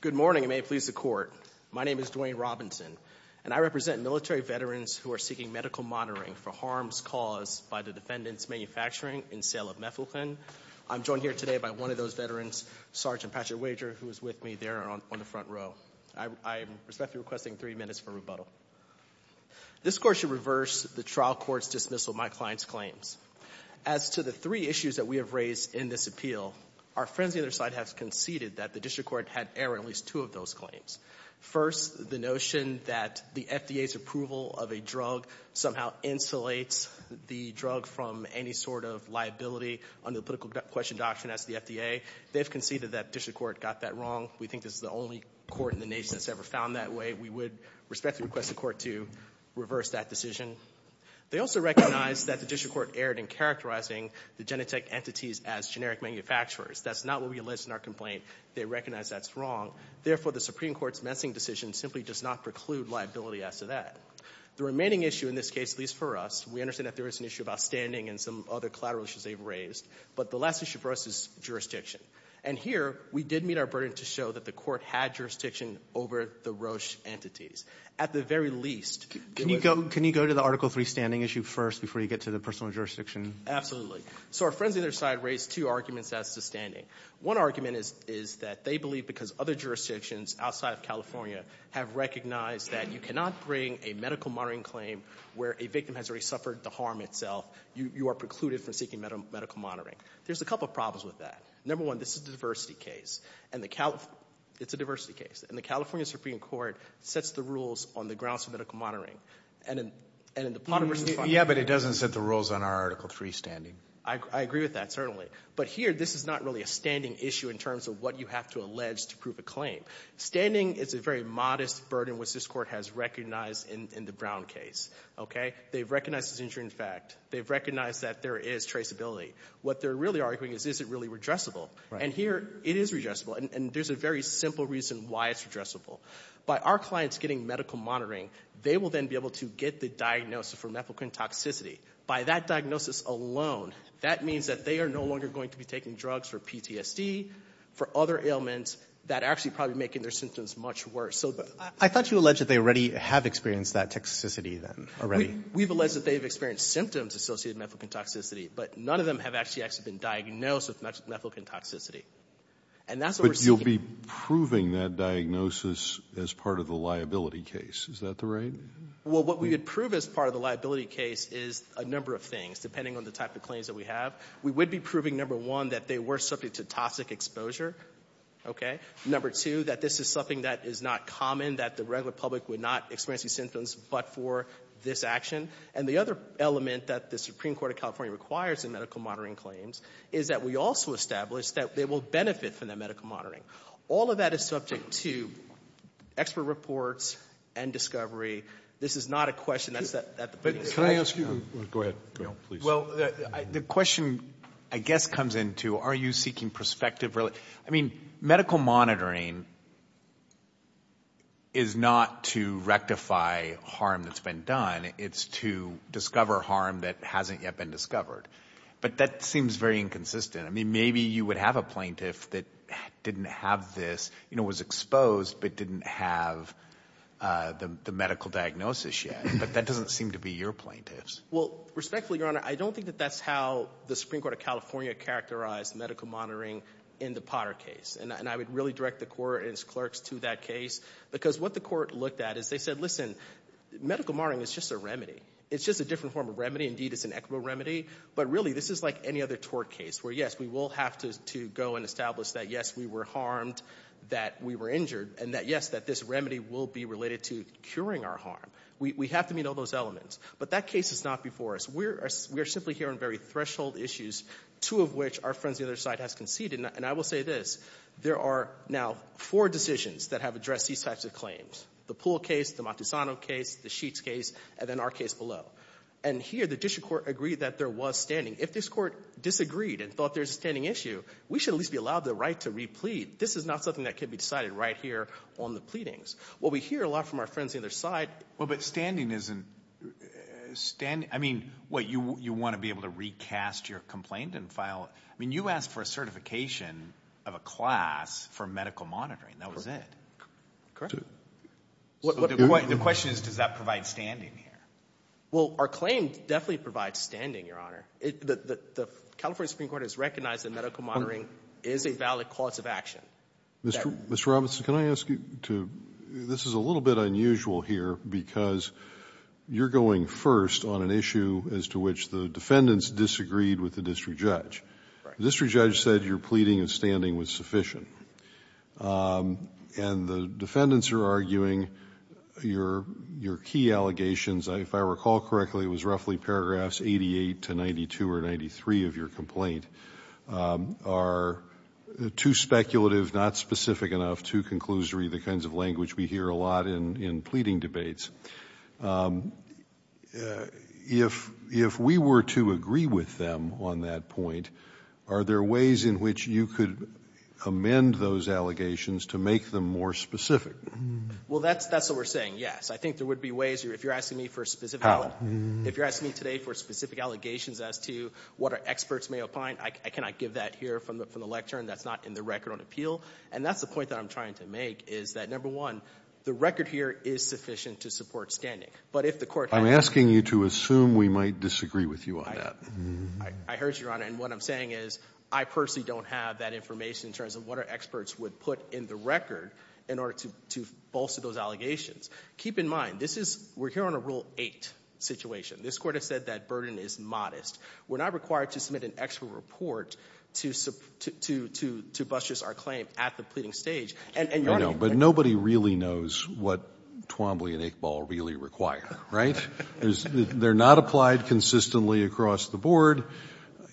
Good morning, and may it please the Court. My name is Dwayne Robinson, and I represent military veterans who are seeking medical monitoring for harms caused by the defendant's manufacturing and sale of methylene. I'm joined here today by one of those veterans, Sergeant Patrick Wager, who is with me there on the front row. I respectfully request three minutes for rebuttal. This Court should reverse the trial court's dismissal of my client's claims. As to the three issues that we have raised in this appeal, our friends on the other side have conceded that the district court had errored at least two of those claims. First, the notion that the FDA's approval of a drug somehow insulates the drug from any sort of liability under the political question doctrine as to the FDA. They've conceded that the district court got that wrong. We think this is the only court in the nation that's ever found that way. We would respectfully request the Court to reverse that decision. They also recognize that the district court erred in characterizing the Genentech entities as generic manufacturers. That's not what we list in our complaint. They recognize that's wrong. Therefore, the Supreme Court's messing decision simply does not preclude liability as to that. The remaining issue in this case, at least for us, we understand that there is an issue about standing and some other collateral issues they've raised. But the last issue for us is jurisdiction. And here, we did meet our burden to show that the Court had jurisdiction over the Roche entities. At the very least, it was— Can you go to the Article III standing issue first before you get to the personal jurisdiction? Absolutely. So our friends on either side raised two arguments as to standing. One argument is that they believe because other jurisdictions outside of California have recognized that you cannot bring a medical monitoring claim where a victim has already suffered the harm itself. You are precluded from seeking medical monitoring. There's a couple of problems with that. Number one, this is a diversity case. And the California—it's a diversity case. And the California Supreme Court sets the rules on the grounds of medical monitoring. And in the Potter v. Fonda— I agree with that, certainly. But here, this is not really a standing issue in terms of what you have to allege to prove a claim. Standing is a very modest burden, which this Court has recognized in the Brown case. Okay? They've recognized this injury in fact. They've recognized that there is traceability. What they're really arguing is, is it really redressable? And here, it is redressable. And there's a very simple reason why it's redressable. By our clients getting medical monitoring, they will then be able to get the diagnosis for mefloquine toxicity. By that diagnosis alone, that means that they are no longer going to be taking drugs for PTSD, for other ailments that are actually probably making their symptoms much worse. So— I thought you alleged that they already have experienced that toxicity then, already? We've alleged that they've experienced symptoms associated with mefloquine toxicity. But none of them have actually been diagnosed with mefloquine toxicity. And that's what we're seeking. But you'll be proving that diagnosis as part of the liability case. Is that the right— Well, what we would prove as part of the liability case is a number of things, depending on the type of claims that we have. We would be proving, number one, that they were subject to toxic exposure. Okay? Number two, that this is something that is not common, that the regular public would not experience these symptoms but for this action. And the other element that the Supreme Court of California requires in medical monitoring claims is that we also establish that they will benefit from that medical monitoring. All of that is subject to expert reports and discovery. This is not a question that's at the— Can I ask you— Go ahead. Go ahead. Please. Well, the question, I guess, comes into, are you seeking perspective? I mean, medical monitoring is not to rectify harm that's been done. It's to discover harm that hasn't yet been discovered. But that seems very inconsistent. I mean, maybe you would have a plaintiff that didn't have this, you know, was exposed but didn't have the medical diagnosis yet, but that doesn't seem to be your plaintiff's. Well, respectfully, Your Honor, I don't think that that's how the Supreme Court of California characterized medical monitoring in the Potter case. And I would really direct the court and its clerks to that case because what the court looked at is they said, listen, medical monitoring is just a remedy. It's just a different form of remedy. Indeed, it's an equitable remedy. But really, this is like any other tort case where, yes, we will have to go and establish that, yes, we were harmed, that we were injured, and that, yes, that this remedy will be related to curing our harm. We have to meet all those elements. But that case is not before us. We are simply here on very threshold issues, two of which our friends on the other side has conceded. And I will say this. There are now four decisions that have addressed these types of claims, the Poole case, the Montesano case, the Sheets case, and then our case below. And here, the district court agreed that there was standing. If this court disagreed and thought there's a standing issue, we should at least be allowed the right to replead. This is not something that can be decided right here on the pleadings. What we hear a lot from our friends on the other side — Well, but standing isn't — I mean, what, you want to be able to recast your complaint and file — I mean, you asked for a certification of a class for medical monitoring. That was it. Correct. So the question is, does that provide standing here? Well, our claim definitely provides standing, Your Honor. The California Supreme Court has recognized that medical monitoring is a valid cause of action. Mr. Robinson, can I ask you to — this is a little bit unusual here because you're going first on an issue as to which the defendants disagreed with the district judge. Right. The district judge said your pleading and standing was sufficient. And the defendants are arguing your key allegations — if I recall correctly, it was roughly paragraphs 88 to 92 or 93 of your complaint — are too speculative, not specific enough, too conclusory, the kinds of language we hear a lot in pleading debates. If we were to agree with them on that point, are there ways in which you could amend those allegations to make them more specific? Well, that's what we're saying, yes. I think there would be ways if you're asking me for a specific — if you're asking me today for specific allegations as to what our experts may opine, I cannot give that here from the lectern. That's not in the record on appeal. And that's the point that I'm trying to make is that, number one, the record here is sufficient to support standing. But if the court — I'm asking you to assume we might disagree with you on that. I heard you, Your Honor. And what I'm saying is I personally don't have that information in terms of what our experts would put in the record in order to bolster those allegations. Keep in mind, this is — we're here on a Rule 8 situation. This Court has said that burden is modest. We're not required to submit an extra report to — to — to bust just our claim at the pleading stage. And, Your Honor — I know. But nobody really knows what Twombly and Iqbal really require, right? They're not applied consistently across the board.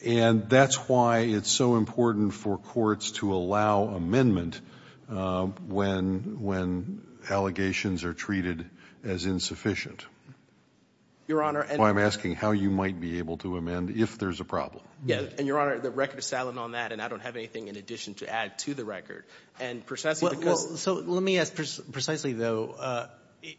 And that's why it's so important for courts to allow amendment when — when allegations are treated as insufficient. Your Honor — So I'm asking how you might be able to amend if there's a problem. Yes. And, Your Honor, the record is silent on that, and I don't have anything in addition to add to the record. And precisely because — Well, so let me ask precisely, though.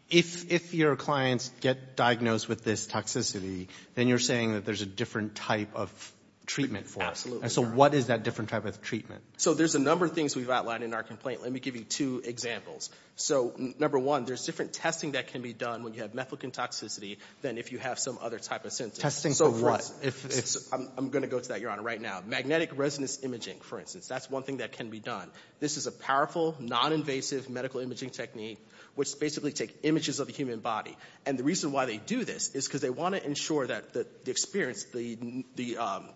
If your clients get diagnosed with this toxicity, then you're saying that there's a different type of treatment for them. Absolutely, Your Honor. And so what is that different type of treatment? So there's a number of things we've outlined in our complaint. Let me give you two examples. So number one, there's different testing that can be done when you have methylcontoxicity than if you have some other type of symptom. Testing for what? So for us — I'm going to go to that, Your Honor, right now. Magnetic resonance imaging, for instance. That's one thing that can be done. This is a powerful, non-invasive medical imaging technique, which basically takes images of the human body. And the reason why they do this is because they want to ensure that the experience, the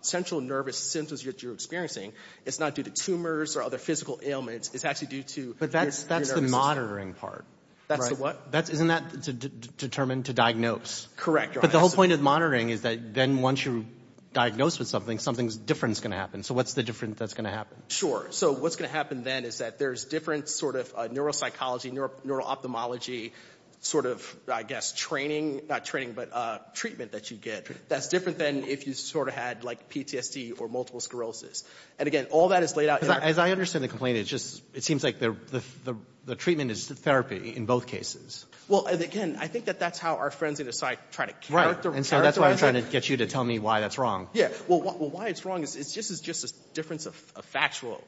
central nervous symptoms that you're experiencing, it's not due to tumors or other physical ailments. It's actually due to — But that's the monitoring part, right? That's the what? Isn't that determined to diagnose? Correct, Your Honor. But the whole point of monitoring is that then once you're diagnosed with something, something different is going to happen. So what's the difference that's going to happen? Sure. So what's going to happen then is that there's different sort of neuropsychology, neuro-ophthalmology sort of, I guess, training — not training, but treatment that you get that's different than if you sort of had, like, PTSD or multiple sclerosis. And again, all that is laid out — Because as I understand the complaint, it just — it seems like the treatment is therapy in both cases. Well, and again, I think that that's how our friends in the psych try to characterize — Right. And so that's why I'm trying to get you to tell me why that's wrong. Yeah. Well, why it's wrong is just a difference of factual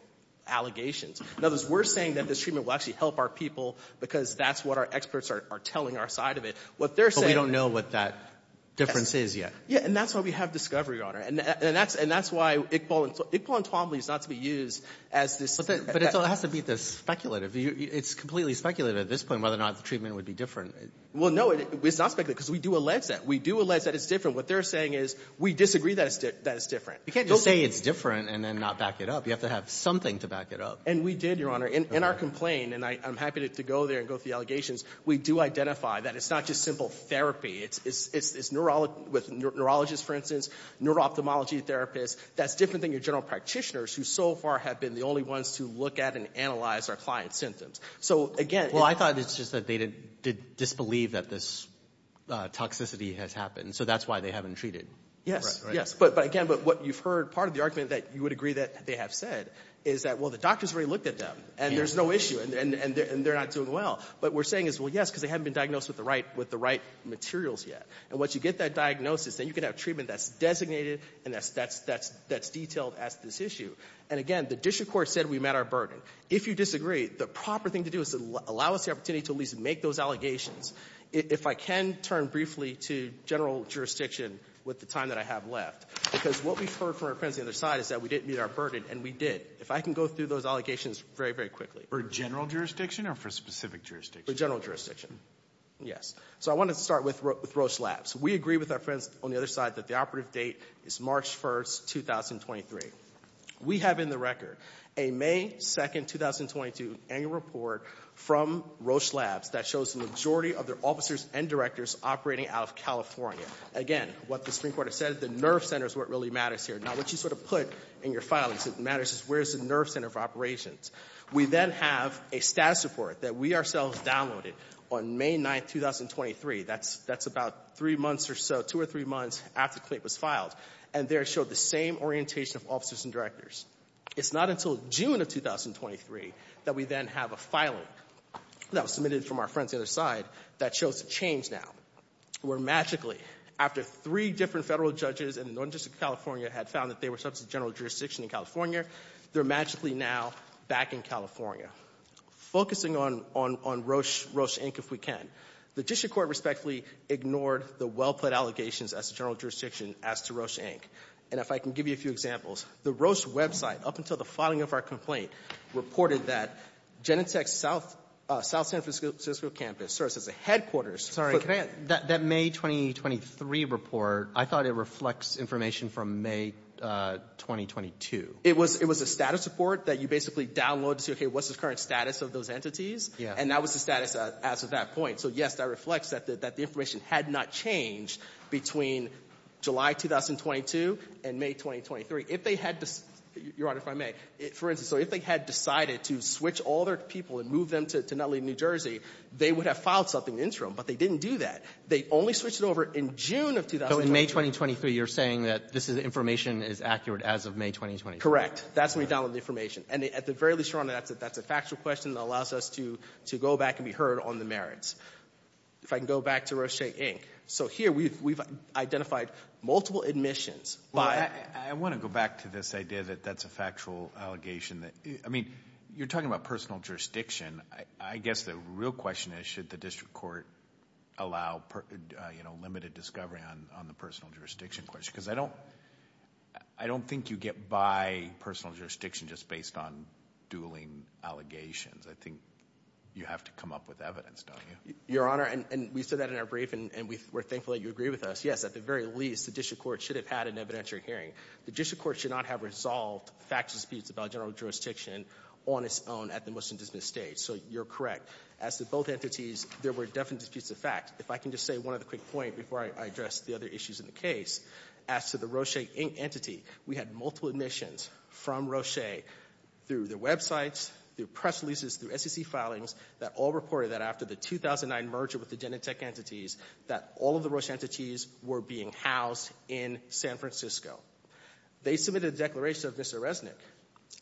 allegations. In other words, we're saying that this treatment will actually help our people because that's what our experts are telling our side of it. What they're saying — But we don't know what that difference is yet. Yeah. And that's why we have Discovery, Your Honor. And that's — and that's why — and so it's not to be used as this — But it has to be speculative. It's completely speculative at this point whether or not the treatment would be different. Well, no, it's not speculative because we do allege that. We do allege that it's different. What they're saying is, we disagree that it's different. You can't just say it's different and then not back it up. You have to have something to back it up. And we did, Your Honor. In our complaint, and I'm happy to go there and go through the allegations, we do identify that it's not just simple therapy. It's neurologists, for instance, neuro-ophthalmology therapists. That's different than your general practitioners, who so far have been the only ones to look at and analyze our client's symptoms. So again — Well, I thought it's just that they disbelieve that this toxicity has happened. So that's why they haven't treated. Yes. Yes. But again, what you've heard, part of the argument that you would agree that they have said is that, well, the doctors already looked at them, and there's no issue, and they're not doing well. But what we're saying is, well, yes, because they haven't been diagnosed with the right materials yet. And once you get that diagnosis, then you can have treatment that's designated and that's detailed as to this issue. And again, the district court said we met our burden. If you disagree, the proper thing to do is to allow us the opportunity to at least make those allegations. If I can turn briefly to general jurisdiction with the time that I have left, because what we've heard from our friends on the other side is that we didn't meet our burden, and we did. If I can go through those allegations very, very quickly. For general jurisdiction or for specific jurisdiction? For general jurisdiction, yes. So I want to start with Roche Labs. We agree with our friends on the other side that the operative date is March 1st, 2023. We have in the record a May 2nd, 2022, annual report from Roche Labs that shows the majority of their officers and directors operating out of California. Again, what the Supreme Court has said, the nerve center is what really matters here. Now, what you sort of put in your filings that matters is where's the nerve center for operations. We then have a status report that we ourselves downloaded on May 9th, 2023. That's about three months or so, two or three months after Clayton was filed. And there it showed the same orientation of officers and directors. It's not until June of 2023 that we then have a filing that was submitted from our friends on the other side that shows the change now. Where magically, after three different federal judges in the Northern District of California had found that they were subject to general jurisdiction in California, they're magically now back in California. Focusing on Roche, Roche, Inc., if we can, the district court respectfully ignored the well-put allegations as to general jurisdiction as to Roche, Inc. And if I can give you a few examples, the Roche website, up until the filing of our complaint, reported that Genentech's South San Francisco campus serves as a headquarters for that May 2023 report, I thought it reflects information from May 2022. It was a status report that you basically download to see, okay, what's the current status of those entities? And that was the status as of that point. So yes, that reflects that the information had not changed between July 2022 and May 2023. If they had, Your Honor, if I may, for instance, if they had decided to switch all their people and move them to Nutley, New Jersey, they would have filed something interim, but they didn't do that. They only switched it over in June of- So in May 2023, you're saying that this information is accurate as of May 2023? Correct. That's when we downloaded the information. And at the very least, Your Honor, that's a factual question that allows us to go back and be heard on the merits. If I can go back to Roche, Inc. So here we've identified multiple admissions by- I want to go back to this idea that that's a factual allegation. I mean, you're talking about personal jurisdiction. I guess the real question is, should the district court allow limited discovery on the personal jurisdiction question? because I don't think you get by personal jurisdiction just based on dueling allegations. I think you have to come up with evidence, don't you? Your Honor, and we said that in our brief, and we're thankful that you agree with us. Yes, at the very least, the district court should have had an evidentiary hearing. The district court should not have resolved factual disputes about general jurisdiction on its own at the motion to dismiss stage. So you're correct. As to both entities, there were definite disputes of fact. If I can just say one other quick point before I address the other issues in the case. As to the Roche, Inc. entity, we had multiple admissions from Roche through their websites, their press releases, their SEC filings, that all reported that after the 2009 merger with the Genentech entities, that all of the Roche entities were being housed in San Francisco. They submitted a declaration of Mr. Resnick.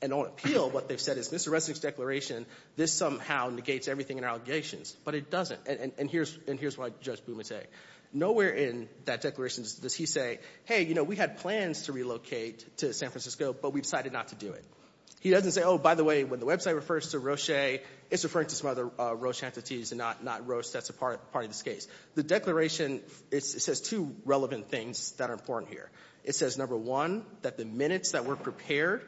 And on appeal, what they've said is, Mr. Resnick's declaration, this somehow negates everything in our allegations. But it doesn't, and here's what Judge Bumate. Nowhere in that declaration does he say, hey, we had plans to relocate to San Francisco, but we decided not to do it. He doesn't say, by the way, when the website refers to Roche, it's referring to some other Roche entities and not Roche that's a part of this case. The declaration, it says two relevant things that are important here. It says, number one, that the minutes that were prepared,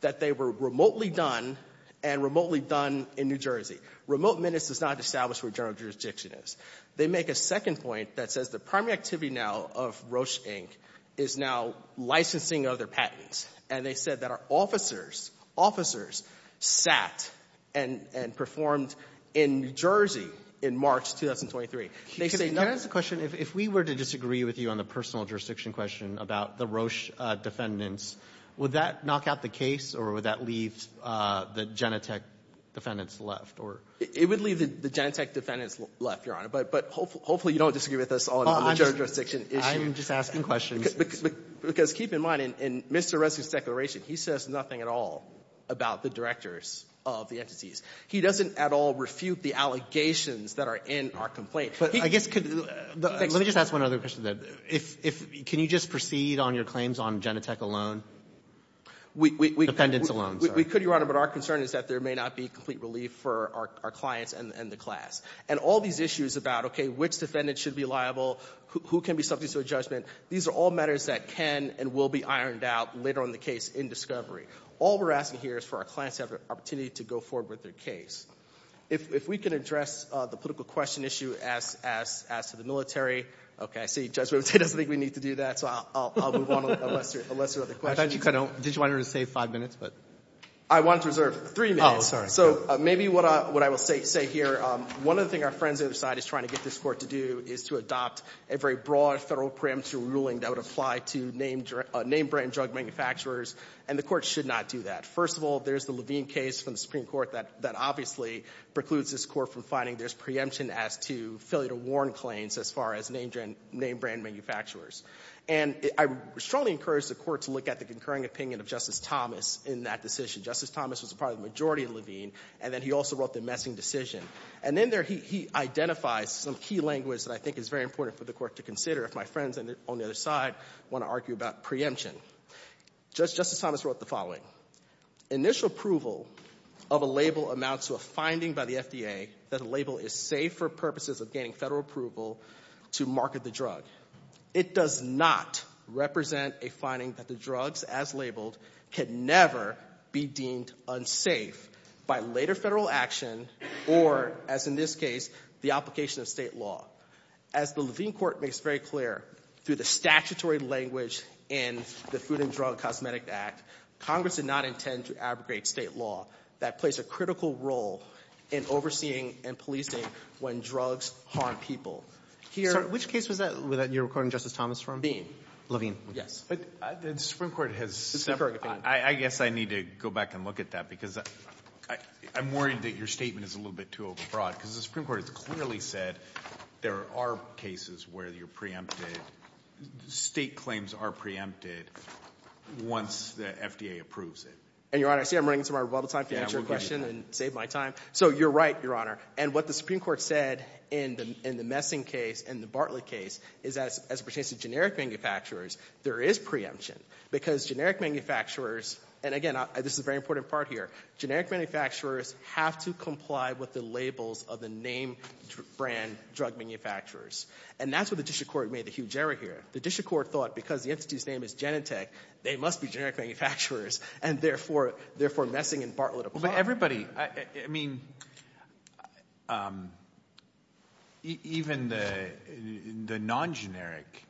that they were remotely done, and remotely done in New Jersey. Remote minutes does not establish where general jurisdiction is. They make a second point that says the primary activity now of Roche, Inc. is now licensing other patents. And they said that our officers, officers, sat and performed in New Jersey in March 2023. They say- Can I ask a question? If we were to disagree with you on the personal jurisdiction question about the Roche defendants, would that knock out the case, or would that leave the Genentech defendants left, or? It would leave the Genentech defendants left, Your Honor, but hopefully you don't disagree with us on the general jurisdiction issue. I'm just asking questions. Because keep in mind, in Mr. Resnick's declaration, he says nothing at all about the directors of the entities. He doesn't at all refute the allegations that are in our complaint. But I guess- Let me just ask one other question, then. If, can you just proceed on your claims on Genentech alone, the defendants alone? We could, Your Honor, but our concern is that there may not be complete relief for our clients and the class. And all these issues about, okay, which defendant should be liable, who can be subject to a judgment, these are all matters that can and will be ironed out later on in the case in discovery. All we're asking here is for our clients to have the opportunity to go forward with their case. If we can address the political question issue as to the military. Okay, I see Judge Wimpton doesn't think we need to do that, so I'll move on unless there are other questions. I thought you kind of, did you want her to save five minutes, but? I wanted to reserve three minutes. Oh, sorry. So maybe what I will say here, one of the things our friends on the other side is trying to get this court to do is to adopt a very broad federal preemptive ruling that would apply to name brand drug manufacturers, and the court should not do that. First of all, there's the Levine case from the Supreme Court that obviously precludes this court from finding there's preemption as to failure to warn claims as far as name brand manufacturers. And I strongly encourage the court to look at the concurring opinion of Justice Thomas in that decision. Justice Thomas was a part of the majority of Levine, and then he also wrote the messing decision. And in there, he identifies some key language that I think is very important for the court to consider if my friends on the other side want to argue about preemption. Justice Thomas wrote the following. Initial approval of a label amounts to a finding by the FDA that a label is safe for purposes of getting federal approval to market the drug. It does not represent a finding that the drugs, as labeled, could never be deemed unsafe by later federal action or, as in this case, the application of state law. As the Levine court makes very clear, through the statutory language in the Food and Drug Cosmetic Act, Congress did not intend to abrogate state law that plays a critical role in overseeing and policing when drugs harm people. Here- Which case was that that you're recording Justice Thomas from? Levine, yes. But the Supreme Court has- The concurring opinion. I guess I need to go back and look at that because I'm worried that your statement is a little bit too overbroad. because the Supreme Court has clearly said there are cases where you're preempted, state claims are preempted once the FDA approves it. And your honor, see I'm running into my rebuttal time to answer your question and save my time. So you're right, your honor. And what the Supreme Court said in the Messing case, in the Bartlett case, is that as it pertains to generic manufacturers, there is preemption. Because generic manufacturers, and again, this is a very important part here, generic manufacturers have to comply with the labels of the name brand drug manufacturers. And that's where the district court made the huge error here. The district court thought because the entity's name is Genentech, they must be generic manufacturers. And therefore, Messing and Bartlett apply. But everybody, I mean, even the non-generic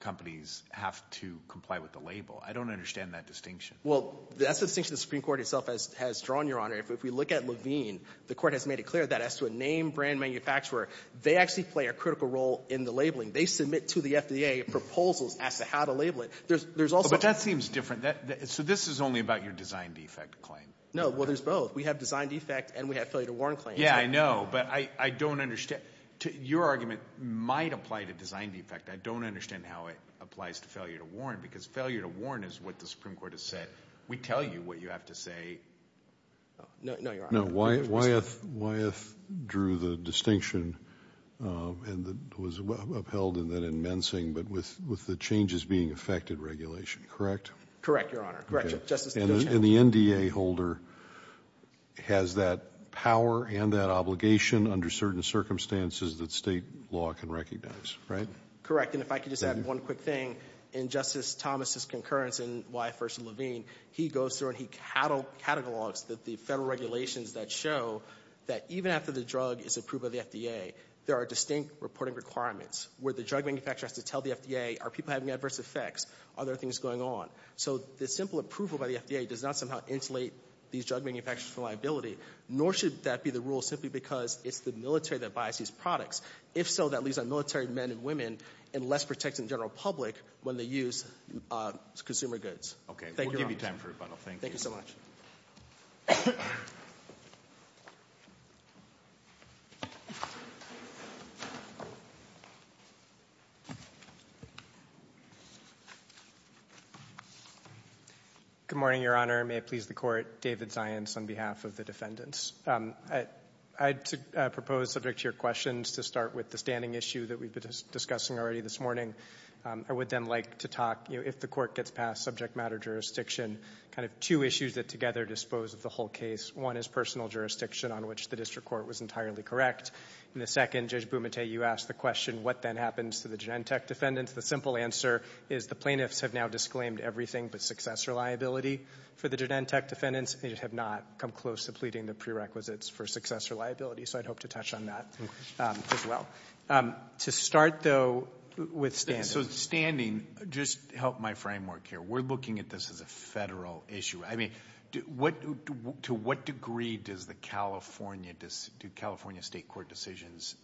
companies have to comply with the label. I don't understand that distinction. Well, that's the distinction the Supreme Court itself has drawn, your honor. If we look at Levine, the court has made it clear that as to a name brand manufacturer, they actually play a critical role in the labeling. They submit to the FDA proposals as to how to label it. There's also- But that seems different. So this is only about your design defect claim? No. Well, there's both. We have design defect and we have failure to warn claim. Yeah, I know. But I don't understand. Your argument might apply to design defect. I don't understand how it applies to failure to warn. Because failure to warn is what the Supreme Court has said. We tell you what you have to say. No, no, your honor. No, Wyeth drew the distinction and was upheld in that in Mensing, but with the changes being affected regulation, correct? Correct, your honor. Correct, Justice. And the NDA holder has that power and that obligation under certain circumstances that state law can recognize, right? Correct, and if I could just add one quick thing. In Justice Thomas' concurrence in Wyeth v. Levine, he goes through and he catalogs the federal regulations that show that even after the drug is approved by the FDA, there are distinct reporting requirements where the drug manufacturer has to tell the FDA, are people having adverse effects? Are there things going on? So the simple approval by the FDA does not somehow insulate these drug manufacturers from liability, nor should that be the rule simply because it's the military that buys these products. If so, that leaves our military men and women in less protection to the general public when they use consumer goods. Okay, we'll give you time for rebuttal, thank you. Thank you so much. Good morning, your honor. May it please the court, David Zients on behalf of the defendants. I'd propose subject to your questions to start with the standing issue that we've been discussing already this morning. I would then like to talk, if the court gets past subject matter jurisdiction, kind of two issues that together dispose of the whole case. One is personal jurisdiction on which the district court was entirely correct. In the second, Judge Bumate, you asked the question, what then happens to the Genentech defendants? The simple answer is the plaintiffs have now disclaimed everything but successor liability for the Genentech defendants. They have not come close to pleading the prerequisites for successor liability, so I'd hope to touch on that as well. To start, though, with standing. So standing, just help my framework here. We're looking at this as a federal issue. I mean, to what degree does the California, do California state court decisions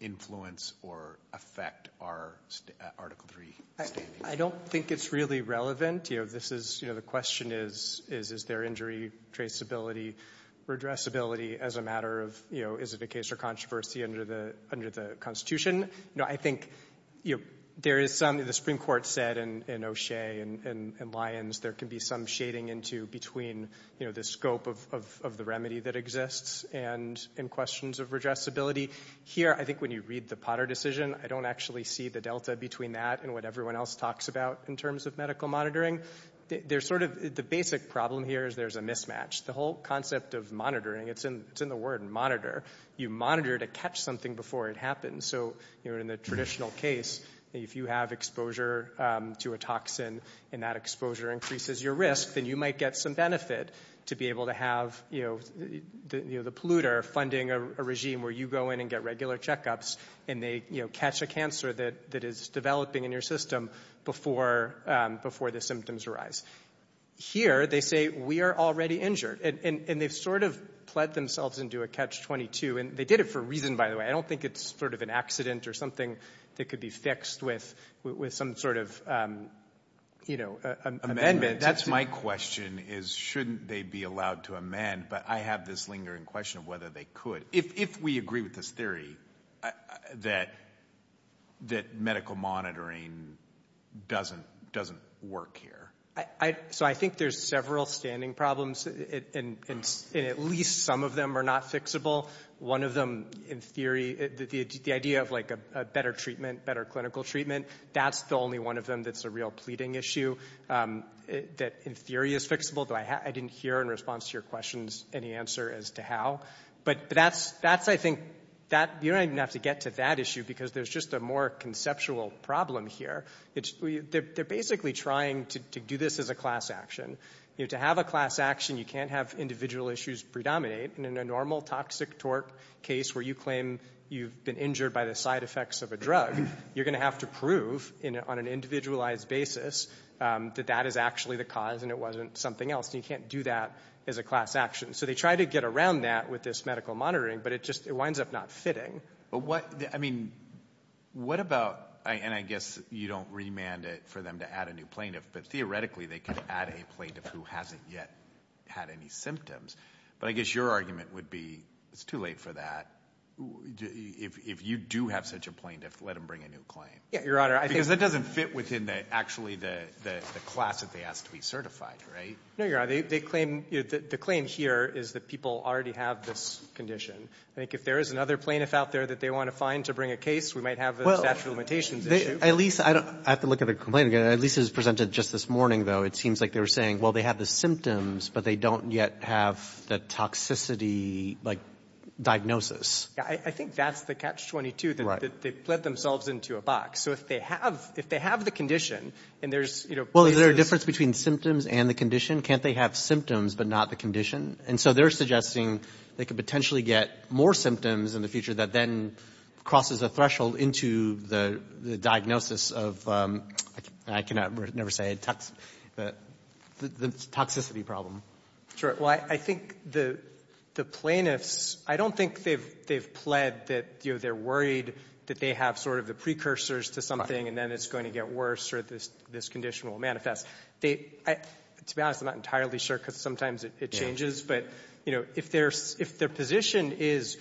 influence or affect our article three standing? I don't think it's really relevant. This is, the question is, is there injury traceability, redressability as a matter of is it a case of controversy under the constitution? I think there is something the Supreme Court said in O'Shea and there can be some shading into between the scope of the remedy that exists and in questions of redressability. Here, I think when you read the Potter decision, I don't actually see the delta between that and what everyone else talks about in terms of medical monitoring. The basic problem here is there's a mismatch. The whole concept of monitoring, it's in the word monitor. You monitor to catch something before it happens. So in the traditional case, if you have exposure to a toxin and that exposure increases your risk, then you might get some benefit to be able to have the polluter funding a regime where you go in and get regular checkups and they catch a cancer that is developing in your system before the symptoms arise. Here, they say we are already injured. And they've sort of pled themselves into a catch-22, and they did it for a reason, by the way. I don't think it's sort of an accident or something that could be fixed with some sort of amendment. That's my question, is shouldn't they be allowed to amend, but I have this lingering question of whether they could. If we agree with this theory, that medical monitoring doesn't work here. So I think there's several standing problems, and at least some of them are not fixable. One of them, in theory, the idea of a better treatment, better clinical treatment, that's the only one of them that's a real pleading issue that in theory is fixable. Though I didn't hear in response to your questions any answer as to how. But that's, I think, you don't even have to get to that issue because there's just a more conceptual problem here. They're basically trying to do this as a class action. To have a class action, you can't have individual issues predominate. And in a normal toxic torque case where you claim you've been injured by the side effects of a drug, you're going to have to prove on an individualized basis that that is actually the cause and it wasn't something else. And you can't do that as a class action. So they try to get around that with this medical monitoring, but it just winds up not fitting. But what, I mean, what about, and I guess you don't remand it for them to add a new plaintiff. But theoretically, they could add a plaintiff who hasn't yet had any symptoms. But I guess your argument would be, it's too late for that, if you do have such a plaintiff, let them bring a new claim. Yeah, your honor, I think- Because that doesn't fit within actually the class that they ask to be certified, right? No, your honor, the claim here is that people already have this condition. I think if there is another plaintiff out there that they want to find to bring a case, we might have a statute of limitations issue. At least, I don't, I have to look at the complaint again, at least it was presented just this morning, though. It seems like they were saying, well, they have the symptoms, but they don't yet have the toxicity, like, diagnosis. Yeah, I think that's the catch-22, that they've let themselves into a box. So if they have, if they have the condition, and there's, you know- Well, is there a difference between symptoms and the condition? Can't they have symptoms but not the condition? And so they're suggesting they could potentially get more symptoms in the future that then crosses a threshold into the diagnosis of, I can never say, the toxicity problem. Sure, well, I think the plaintiffs, I don't think they've pled that, you know, they're worried that they have sort of the precursors to something and then it's going to get worse or this condition will manifest. They, to be honest, I'm not entirely sure because sometimes it changes, but, you know, if their position is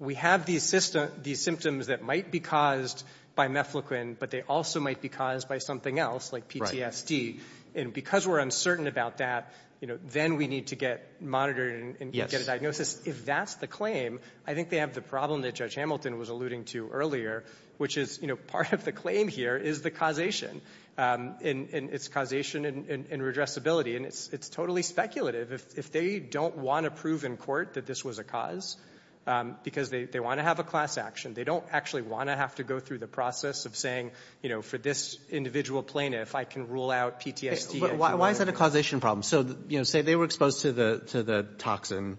we have these symptoms that might be caused by mefloquine, but they also might be caused by something else, like PTSD, and because we're uncertain about that, you know, then we need to get monitored and get a diagnosis. If that's the claim, I think they have the problem that Judge Hamilton was alluding to earlier, which is, you know, part of the claim here is the causation and it's causation and redressability. And it's totally speculative. If they don't want to prove in court that this was a cause because they want to have a class action, they don't actually want to have to go through the process of saying, you know, for this individual plaintiff, I can rule out PTSD. But why is that a causation problem? So, you know, say they were exposed to the toxin.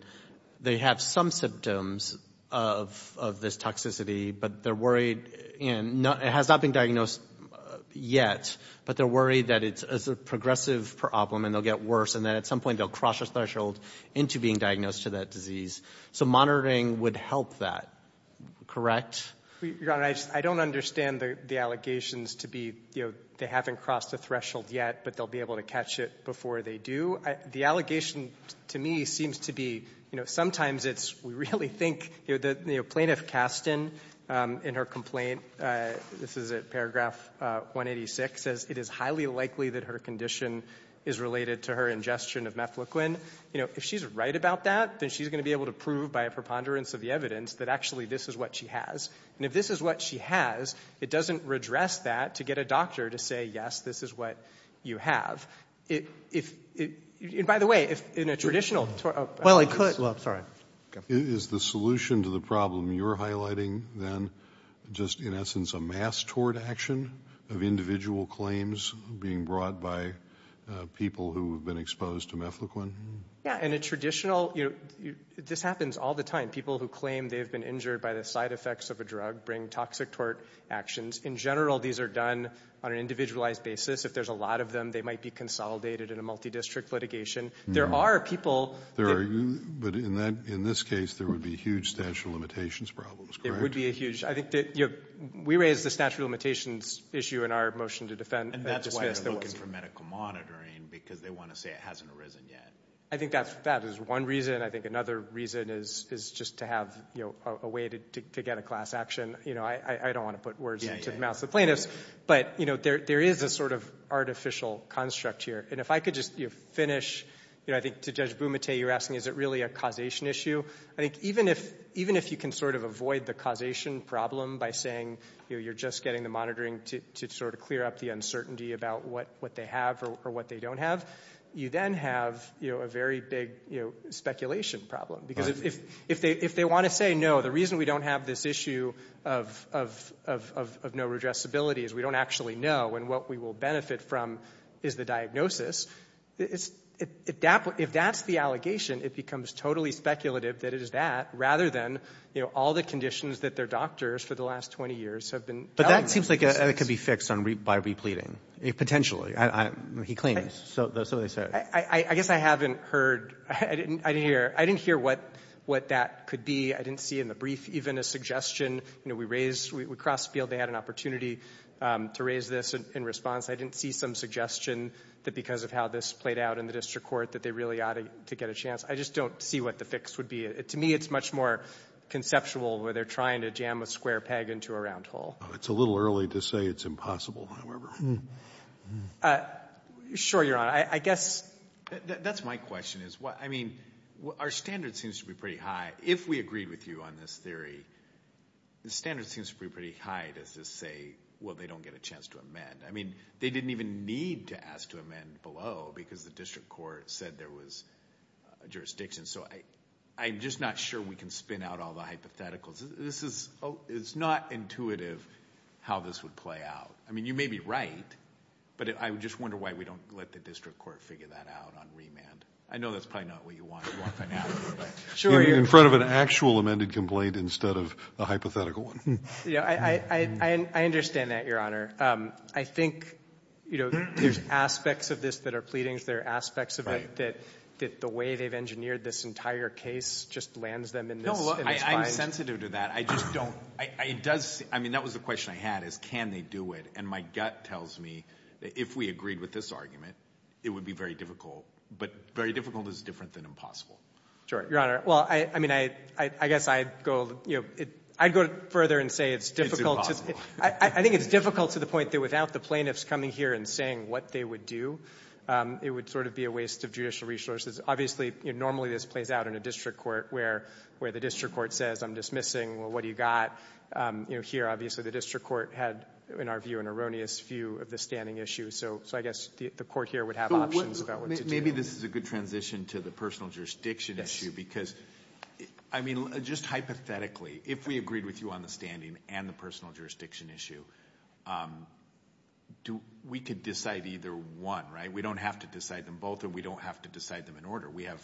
They have some symptoms of this toxicity, but they're worried and it has not been diagnosed yet, but they're worried that it's a progressive problem and they'll get worse, and then at some point they'll cross a threshold into being diagnosed to that disease. So monitoring would help that, correct? Your Honor, I don't understand the allegations to be, you know, they haven't crossed a threshold yet, but they'll be able to catch it before they do. The allegation to me seems to be, you know, sometimes it's, we really think, you know, Plaintiff Kasten in her complaint, this is at paragraph 186, says it is highly likely that her condition is related to her ingestion of mefloquine. You know, if she's right about that, then she's going to be able to prove by a preponderance of the evidence that actually this is what she has. And if this is what she has, it doesn't redress that to get a doctor to say, yes, this is what you have. If, by the way, in a traditional... Well, I could, well, sorry. Is the solution to the problem you're highlighting then just, in essence, a mass tort action of individual claims being brought by people who have been exposed to mefloquine? Yeah, in a traditional, you know, this happens all the time. People who claim they've been injured by the side effects of a drug bring toxic tort actions. In general, these are done on an individualized basis. If there's a lot of them, they might be consolidated in a multi-district litigation. There are people... There are, but in this case, there would be huge statute of limitations problems, correct? It would be a huge. I think that, you know, we raised the statute of limitations issue in our motion to defend... And that's why they're looking for medical monitoring, because they want to say it hasn't arisen yet. I think that is one reason. I think another reason is just to have, you know, a way to get a class action. You know, I don't want to put words into the mouths of plaintiffs. But, you know, there is a sort of artificial construct here. And if I could just finish, you know, I think to Judge Bumate, you're asking, is it really a causation issue? I think even if you can sort of avoid the causation problem by saying, you know, you're just getting the monitoring to sort of clear up the uncertainty about what they have or what they don't have, you then have, you know, a very big, you know, speculation problem. Because if they want to say, no, the reason we don't have this issue of no redressability is we don't actually know. And what we will benefit from is the diagnosis. If that's the allegation, it becomes totally speculative that it is that, rather than, you know, all the conditions that their doctors for the last 20 years have been... But that seems like it could be fixed by repleting, potentially, he claims, so they said. I guess I haven't heard, I didn't hear, I didn't hear what that could be. I didn't see in the brief even a suggestion. You know, we raised, we crossed the field. They had an opportunity to raise this in response. I didn't see some suggestion that because of how this played out in the district court that they really ought to get a chance. I just don't see what the fix would be. To me, it's much more conceptual where they're trying to jam a square peg into a round hole. It's a little early to say it's impossible, however. Sure, Your Honor. I guess... That's my question. I mean, our standard seems to be pretty high. If we agreed with you on this theory, the standard seems to be pretty high to just say, well, they don't get a chance to amend. I mean, they didn't even need to ask to amend below because the district court said there was jurisdiction. So I'm just not sure we can spin out all the hypotheticals. This is, it's not intuitive how this would play out. I mean, you may be right, but I just wonder why we don't let the district court figure that out on remand. I know that's probably not what you want to do on finality, but... In front of an actual amended complaint instead of a hypothetical one. Yeah, I understand that, Your Honor. I think, you know, there's aspects of this that are pleadings. There are aspects of it that the way they've engineered this entire case just lands them in this... No, I'm sensitive to that. I just don't, it does, I mean, that was the question I had, is can they do it? And my gut tells me that if we agreed with this argument, it would be very difficult. But very difficult is different than impossible. Sure, Your Honor. Well, I mean, I guess I'd go, you know, I'd go further and say it's difficult... I think it's difficult to the point that without the plaintiffs coming here and saying what they would do, it would sort of be a waste of judicial resources. Obviously, normally this plays out in a district court where the district court says, I'm dismissing, well, what do you got? You know, here, obviously, the district court had, in our view, an erroneous view of the standing issue. So I guess the court here would have options about what to do. Maybe this is a good transition to the personal jurisdiction issue because, I mean, just hypothetically, if we agreed with you on the standing and the personal jurisdiction issue, we could decide either one, right? We don't have to decide them both and we don't have to decide them in order. We have,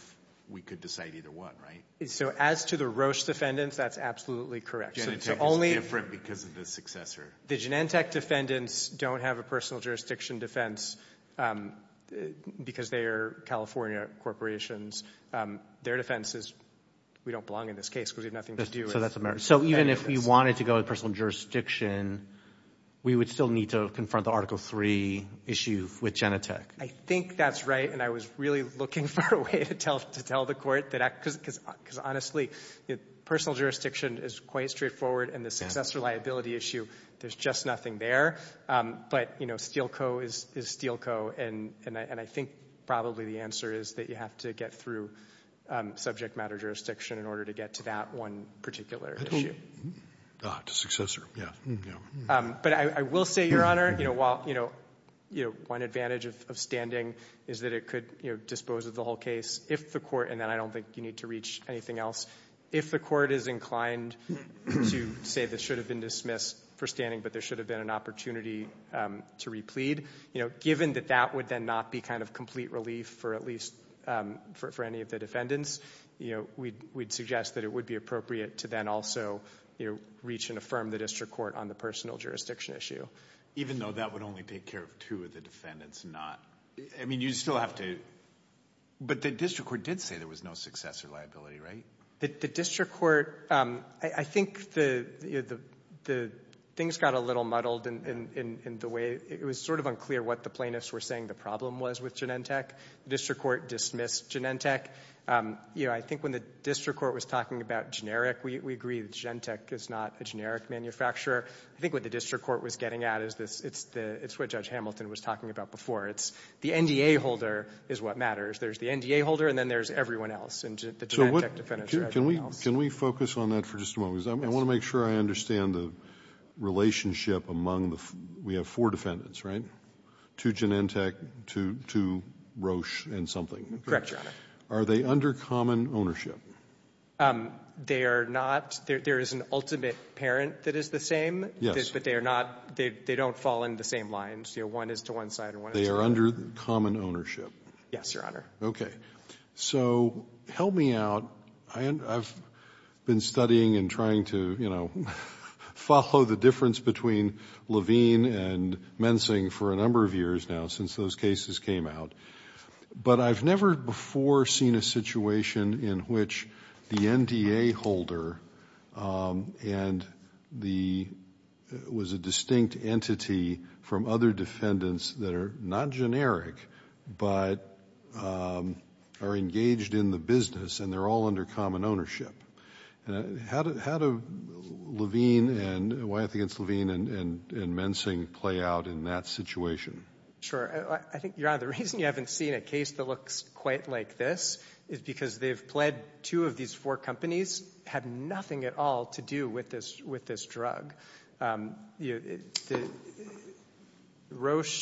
we could decide either one, right? So as to the Roche defendants, that's absolutely correct. Genentech is different because of the successor. The Genentech defendants don't have a personal jurisdiction defense because they are California corporations. Their defense is, we don't belong in this case because we have nothing to do with... So that's a merit. So even if we wanted to go with personal jurisdiction, we would still need to confront the Article III issue with Genentech. I think that's right. And I was really looking for a way to tell the court that, because honestly, personal jurisdiction is quite straightforward and the successor liability issue, there's just nothing there. But, you know, Steele Co. is Steele Co. And I think probably the answer is that you have to get through subject matter jurisdiction in order to get to that one particular issue. Ah, to successor, yeah. But I will say, Your Honor, you know, while, you know, one advantage of standing is that it could, you know, dispose of the whole case if the court... And then I don't think you need to reach anything else. If the court is inclined to say this should have been dismissed for standing, but there should have been an opportunity to replead, you know, given that that would then not be kind of complete relief for at least for any of the defendants, you know, we'd suggest that it would be appropriate to then also, you know, reach and affirm the district court on the personal jurisdiction issue. Even though that would only take care of two of the defendants, not... I mean, you still have to... But the district court did say there was no successor liability, right? The district court... I think the things got a little muddled in the way... It was sort of unclear what the plaintiffs were saying the problem was with Genentech. The district court dismissed Genentech. You know, I think when the district court was talking about generic, we agree that Genentech is not a generic manufacturer. I think what the district court was getting at is this. It's what Judge Hamilton was talking about before. It's the NDA holder is what matters. There's the NDA holder and then there's everyone else. And the Genentech defendants are everyone else. Can we focus on that for just a moment? Because I want to make sure I understand the relationship among the... We have four defendants, right? Two Genentech, two Roche and something. Correct, Your Honor. Are they under common ownership? They are not. There is an ultimate parent that is the same. But they are not... They don't fall in the same lines. You know, one is to one side and one is to the other. They are under common ownership? Yes, Your Honor. Okay. So help me out. I've been studying and trying to, you know, follow the difference between Levine and Mensing for a number of years now since those cases came out. But I've never before seen a situation in which the NDA holder was a distinct entity from other defendants that are not generic, but are engaged in the business and they're all under common ownership. How do Levine and Wyeth against Levine and Mensing play out in that situation? Sure. I think, Your Honor, the reason you haven't seen a case that looks quite like this is because they've pled two of these four companies have nothing at all to do with this drug. Roche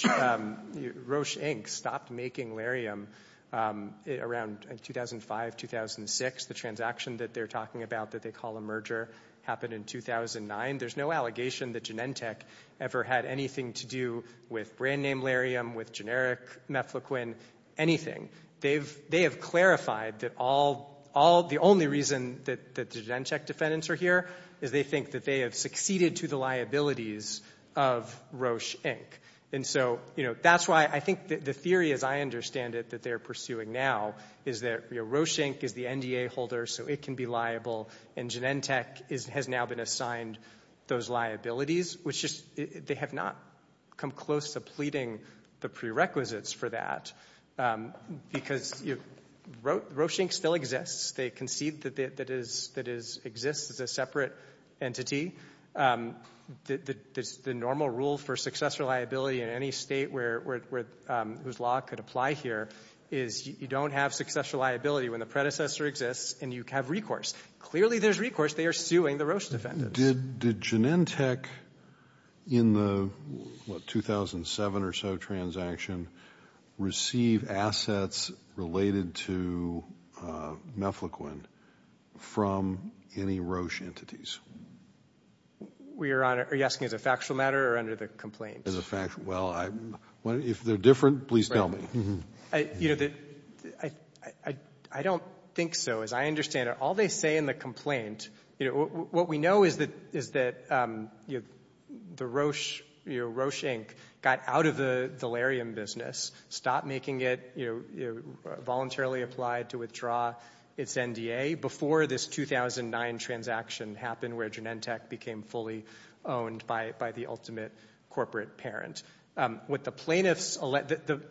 Inc. stopped making larium around 2005, 2006. The transaction that they're talking about that they call a merger happened in 2009. There's no allegation that Genentech ever had anything to do with brand name larium, with generic mefloquine, anything. They have clarified that the only reason that the Genentech defendants are here is they think that they have succeeded to the liabilities of Roche Inc. And so, you know, that's why I think the theory as I understand it that they're pursuing now is that Roche Inc. is the NDA holder, so it can be liable and Genentech has now been assigned those liabilities, which they have not come close to pleading the prerequisites for that. Because Roche Inc. still exists. They concede that it exists as a separate entity. The normal rule for successor liability in any state whose law could apply here is you don't have successor liability when the predecessor exists and you have recourse. Clearly, there's recourse. They are suing the Roche defendants. Did Genentech in the, what, 2007 or so transaction receive assets related to mefloquine from any Roche entities? We are on it. Are you asking as a factual matter or under the complaint? As a factual matter. Well, if they're different, please tell me. You know, I don't think so. As I understand it, all they say in the complaint, what we know is that Roche Inc. got out of the Valerian business, stopped making it voluntarily applied to withdraw its NDA before this 2009 transaction happened where Genentech became fully owned by the ultimate corporate parent. What the plaintiffs, the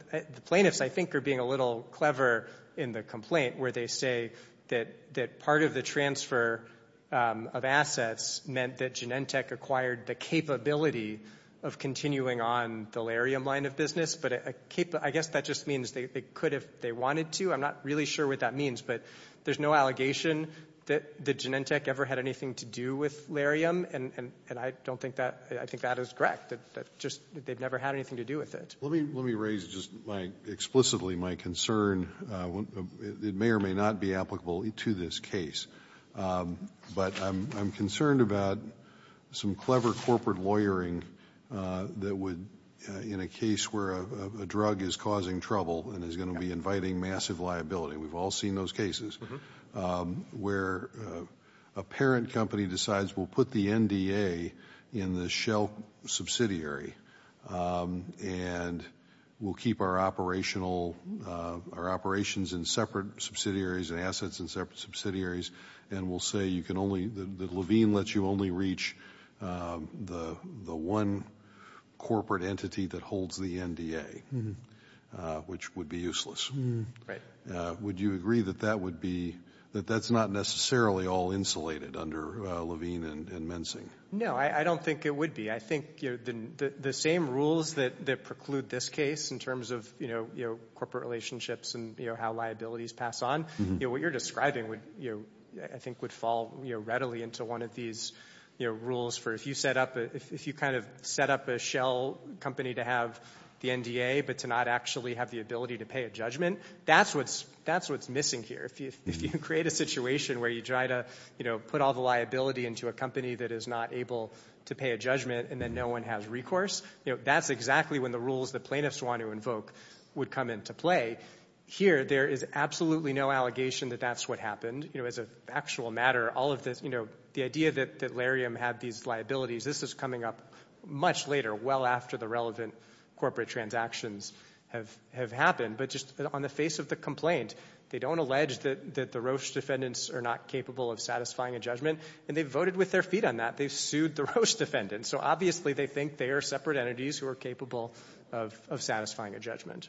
plaintiffs I think are being a little clever in the complaint where they say that part of the transfer of assets meant that Genentech acquired the capability of continuing on the Larium line of business, but I guess that just means they could if they wanted to. I'm not really sure what that means, but there's no allegation that Genentech ever had anything to do with Larium and I don't think that, I think that is correct, that just they've never had anything to do with it. Let me raise just my, explicitly my concern, it may or may not be applicable to this case, but I'm concerned about some clever corporate lawyering that would, in a case where a drug is causing trouble and is going to be inviting massive liability, we've all seen those cases, where a parent company decides we'll put the NDA in the shell subsidiary and we'll keep our operational, our operations in separate subsidiaries and assets in separate subsidiaries and we'll say you can only, that Levine lets you only reach the one corporate entity that holds the NDA, which would be useless. Right. Would you agree that that would be, that that's not necessarily all insulated under Levine and Mensing? No, I don't think it would be. I think the same rules that preclude this case in terms of corporate relationships and how liabilities pass on, what you're describing would, I think would fall readily into one of these rules for if you set up, if you kind of set up a shell company to have the NDA but to not actually have the ability to pay a judgment, that's what's missing here. If you create a situation where you try to put all the liability into a company that is not able to pay a judgment and then no one has recourse, you know, that's exactly when the rules the plaintiffs want to invoke would come into play. Here, there is absolutely no allegation that that's what happened. You know, as a factual matter, all of this, you know, the idea that Lariam had these liabilities, this is coming up much later, well after the relevant corporate transactions have happened but just on the face of the complaint, they don't allege that the Roche defendants are not capable of satisfying a judgment and they voted with their feet on that. They sued the Roche defendants. So obviously, they think they are separate entities who are capable of satisfying a judgment.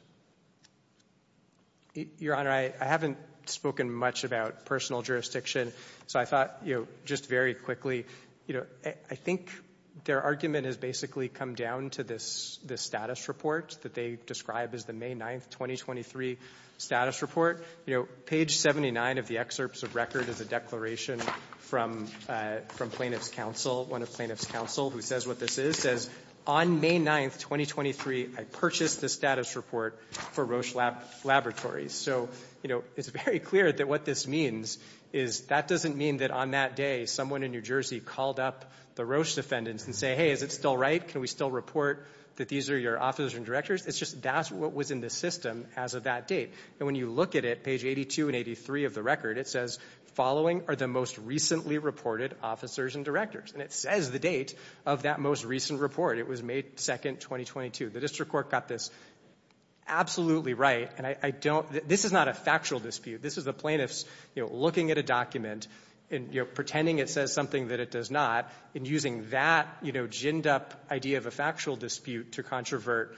Your Honor, I haven't spoken much about personal jurisdiction. So I thought, you know, just very quickly, you know, I think their argument has basically come down to this status report that they describe as the May 9th, 2023 status report. You know, page 79 of the excerpts of record is a declaration from plaintiff's counsel, one of plaintiff's counsel who says what this is, says, on May 9th, 2023, I purchased the status report for Roche Laboratories. So, you know, it's very clear that what this means is that doesn't mean that on that day, someone in New Jersey called up the Roche defendants and say, hey, is it still right? Can we still report that these are your officers and directors? It's just that's what was in the system as of that date. And when you look at it, page 82 and 83 of the record, it says following are the most recently reported officers and directors. And it says the date of that most recent report. It was May 2nd, 2022. The district court got this absolutely right. And I don't, this is not a factual dispute. This is the plaintiffs, you know, looking at a document and, you know, pretending it says something that it does not and using that, you know, ginned up idea of a factual dispute to controvert,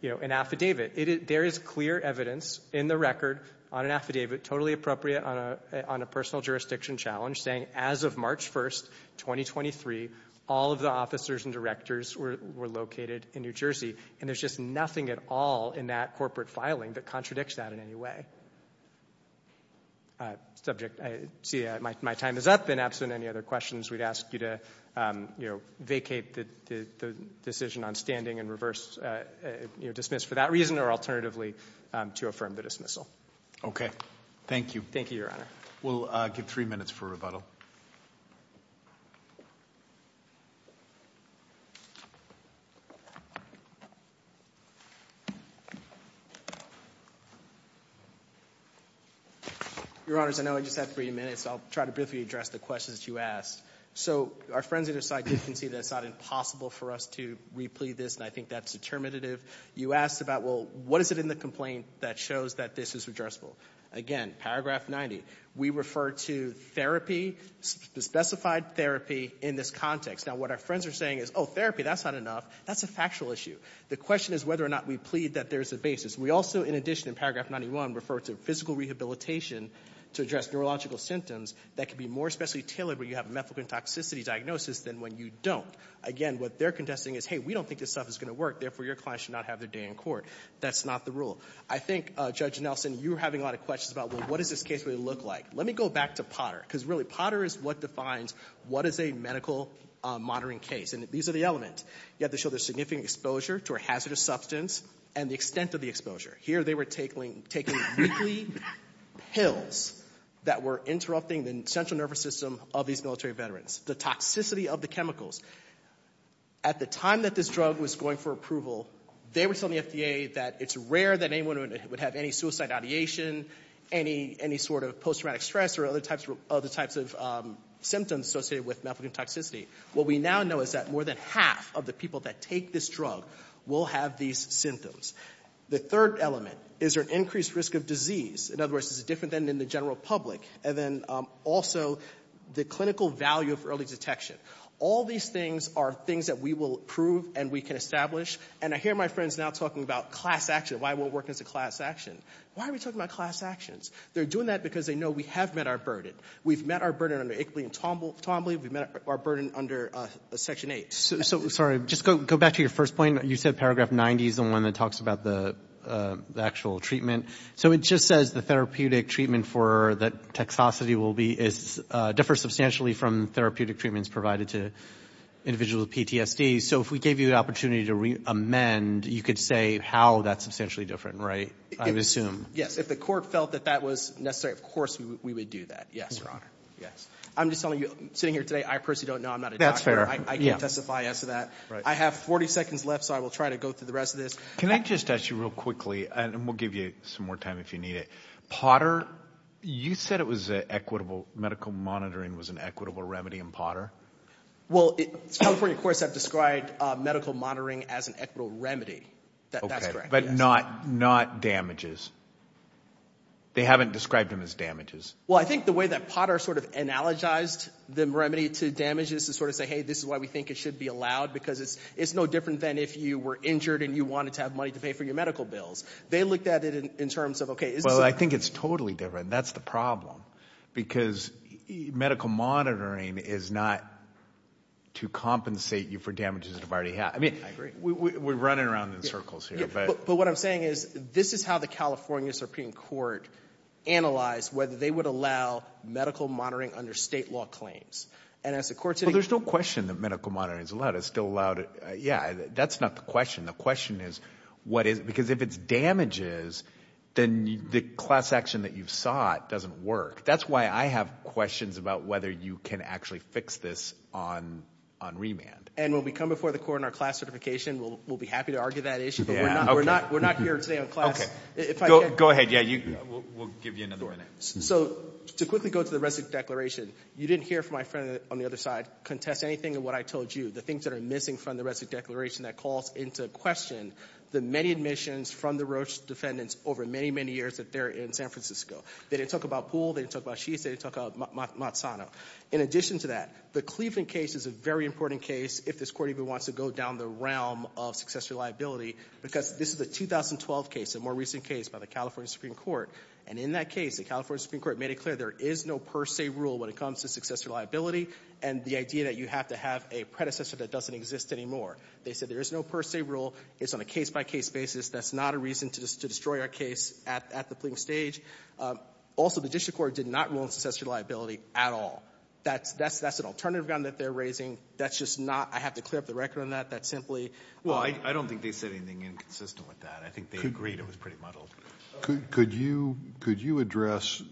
you know, an affidavit. There is clear evidence in the record on an affidavit, totally appropriate on a personal jurisdiction challenge, saying as of March 1st, 2023, all of the officers and directors were located in New Jersey. And there's just nothing at all in that corporate filing that contradicts that in any way. Subject, I see my time is up and absent any other questions, we'd ask you to, you know, vacate the decision on standing and reverse, you know, dismiss for that reason or alternatively to affirm the dismissal. Okay, thank you. Thank you, Your Honor. We'll give three minutes for rebuttal. Your Honors, I know I just have three minutes. I'll try to briefly address the questions you asked. So our friends at your side did concede that it's not impossible for us to replead this and I think that's determinative. You asked about, well, what is it in the complaint that shows that this is addressable? Again, paragraph 90, we refer to therapy, the specified therapy in this context. Now, what our friends are saying is, oh, therapy, that's not enough. That's a factual issue. The question is whether or not we plead that there's a basis. We also, in addition, in paragraph 91, refer to physical rehabilitation to address neurological symptoms that can be more especially tailored when you have a methadone toxicity diagnosis than when you don't. Again, what they're contesting is, hey, we don't think this stuff is gonna work, therefore, your client should not have their day in court. That's not the rule. I think, Judge Nelson, you were having a lot of questions about, well, what does this case really look like? Let me go back to Potter, because really, Potter is what defines what is a medical monitoring case and these are the element. You have to show there's significant exposure to a hazardous substance and the extent of the exposure. Here, they were taking weekly pills that were interrupting the central nervous system of these military veterans. The toxicity of the chemicals. At the time that this drug was going for approval, they were telling the FDA that it's rare that anyone would have any suicide ideation, any sort of post-traumatic stress or other types of symptoms associated with methadone toxicity. What we now know is that more than half of the people that take this drug will have these symptoms. The third element, is there an increased risk of disease? In other words, is it different than in the general public? And then also, the clinical value of early detection. All these things are things that we will prove and we can establish and I hear my friends now talking about class action. Why won't it work as a class action? Why are we talking about class actions? They're doing that because they know we have met our burden. We've met our burden under Ickley and Tombley. We've met our burden under Section 8. So, sorry, just go back to your first point. You said paragraph 90 is the one that talks about the actual treatment. So it just says the therapeutic treatment for that toxicity will be, is differ substantially from therapeutic treatments provided to individuals with PTSD. So if we gave you the opportunity to amend, you could say how that's substantially different, right? I would assume. Yes, if the court felt that that was necessary, of course, we would do that. Yes, Your Honor, yes. I'm just telling you, sitting here today, I personally don't know. I'm not a doctor. I can't testify as to that. I have 40 seconds left, so I will try to go through the rest of this. Can I just ask you real quickly, and we'll give you some more time if you need it. Potter, you said it was an equitable, medical monitoring was an equitable remedy in Potter. Well, California courts have described medical monitoring as an equitable remedy. That's correct. But not damages. They haven't described them as damages. Well, I think the way that Potter sort of analogized the remedy to damages to sort of say, hey, this is why we think it should be allowed because it's no different than if you were injured and you wanted to have money to pay for your medical bills. They looked at it in terms of, okay. Well, I think it's totally different. That's the problem because medical monitoring is not to compensate you for damages you've already had. I mean, we're running around in circles here, but. But what I'm saying is, this is how the California Supreme Court analyzed whether they would allow medical monitoring under state law claims. And as the court said. There's no question that medical monitoring is allowed. It's still allowed. Yeah, that's not the question. The question is, what is it? Because if it's damages, then the class action that you've sought doesn't work. That's why I have questions about whether you can actually fix this on remand. And when we come before the court in our class certification, we'll be happy to argue that issue. But we're not here today on class. Okay, go ahead. Yeah, we'll give you another minute. So to quickly go to the rest of the declaration. You didn't hear from my friend on the other side contest anything in what I told you. The things that are missing from the rest of the declaration that calls into question the many admissions from the Roche defendants over many, many years that they're in San Francisco. They didn't talk about pool. They didn't talk about sheets. They didn't talk about Matsano. In addition to that, the Cleveland case is a very important case if this court even wants to go down the realm of successor liability. Because this is a 2012 case, a more recent case by the California Supreme Court. And in that case, the California Supreme Court made it clear there is no per se rule when it comes to successor liability and the idea that you have to have a predecessor that doesn't exist anymore. They said there is no per se rule. It's on a case by case basis. That's not a reason to destroy our case at the pleading stage. Also, the district court did not rule on successor liability at all. That's an alternative gun that they're raising. That's just not. I have to clear up the record on that. That's simply. Well, I don't think they said anything inconsistent with that. I think they agreed it was pretty muddled. Could you address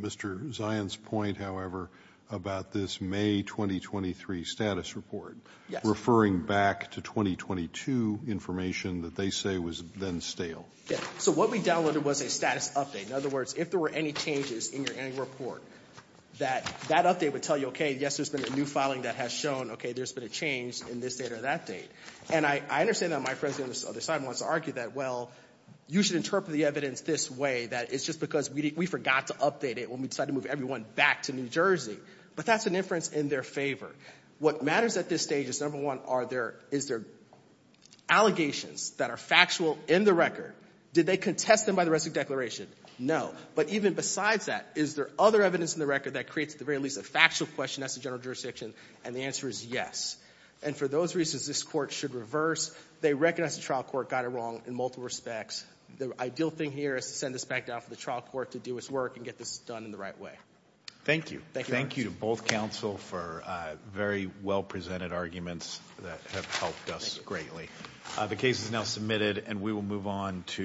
Mr. Zion's point, however, about this May 2023 status report referring back to 2022 information that they say was then stale? So what we downloaded was a status update. In other words, if there were any changes in your annual report, that update would tell you, OK, yes, there's been a new filing that has shown, OK, there's been a change in this date or that date. And I understand that my friend on the other side wants to argue that, well, you should interpret the evidence this way, that it's just because we forgot to update it when we decided to move everyone back to New Jersey. But that's an inference in their favor. What matters at this stage is, number one, is there allegations that are factual in the record? Did they contest them by the rest of the declaration? No. But even besides that, is there other evidence in the record that creates, at the very least, a factual question as to general jurisdiction? And the answer is yes. And for those reasons, this court should reverse. They recognize the trial court got it wrong in multiple respects. The ideal thing here is to send this back down for the trial court to do its work and get this done in the right way. Thank you. Thank you to both counsel for very well-presented arguments that have helped us greatly. The case is now submitted, and we will move on to...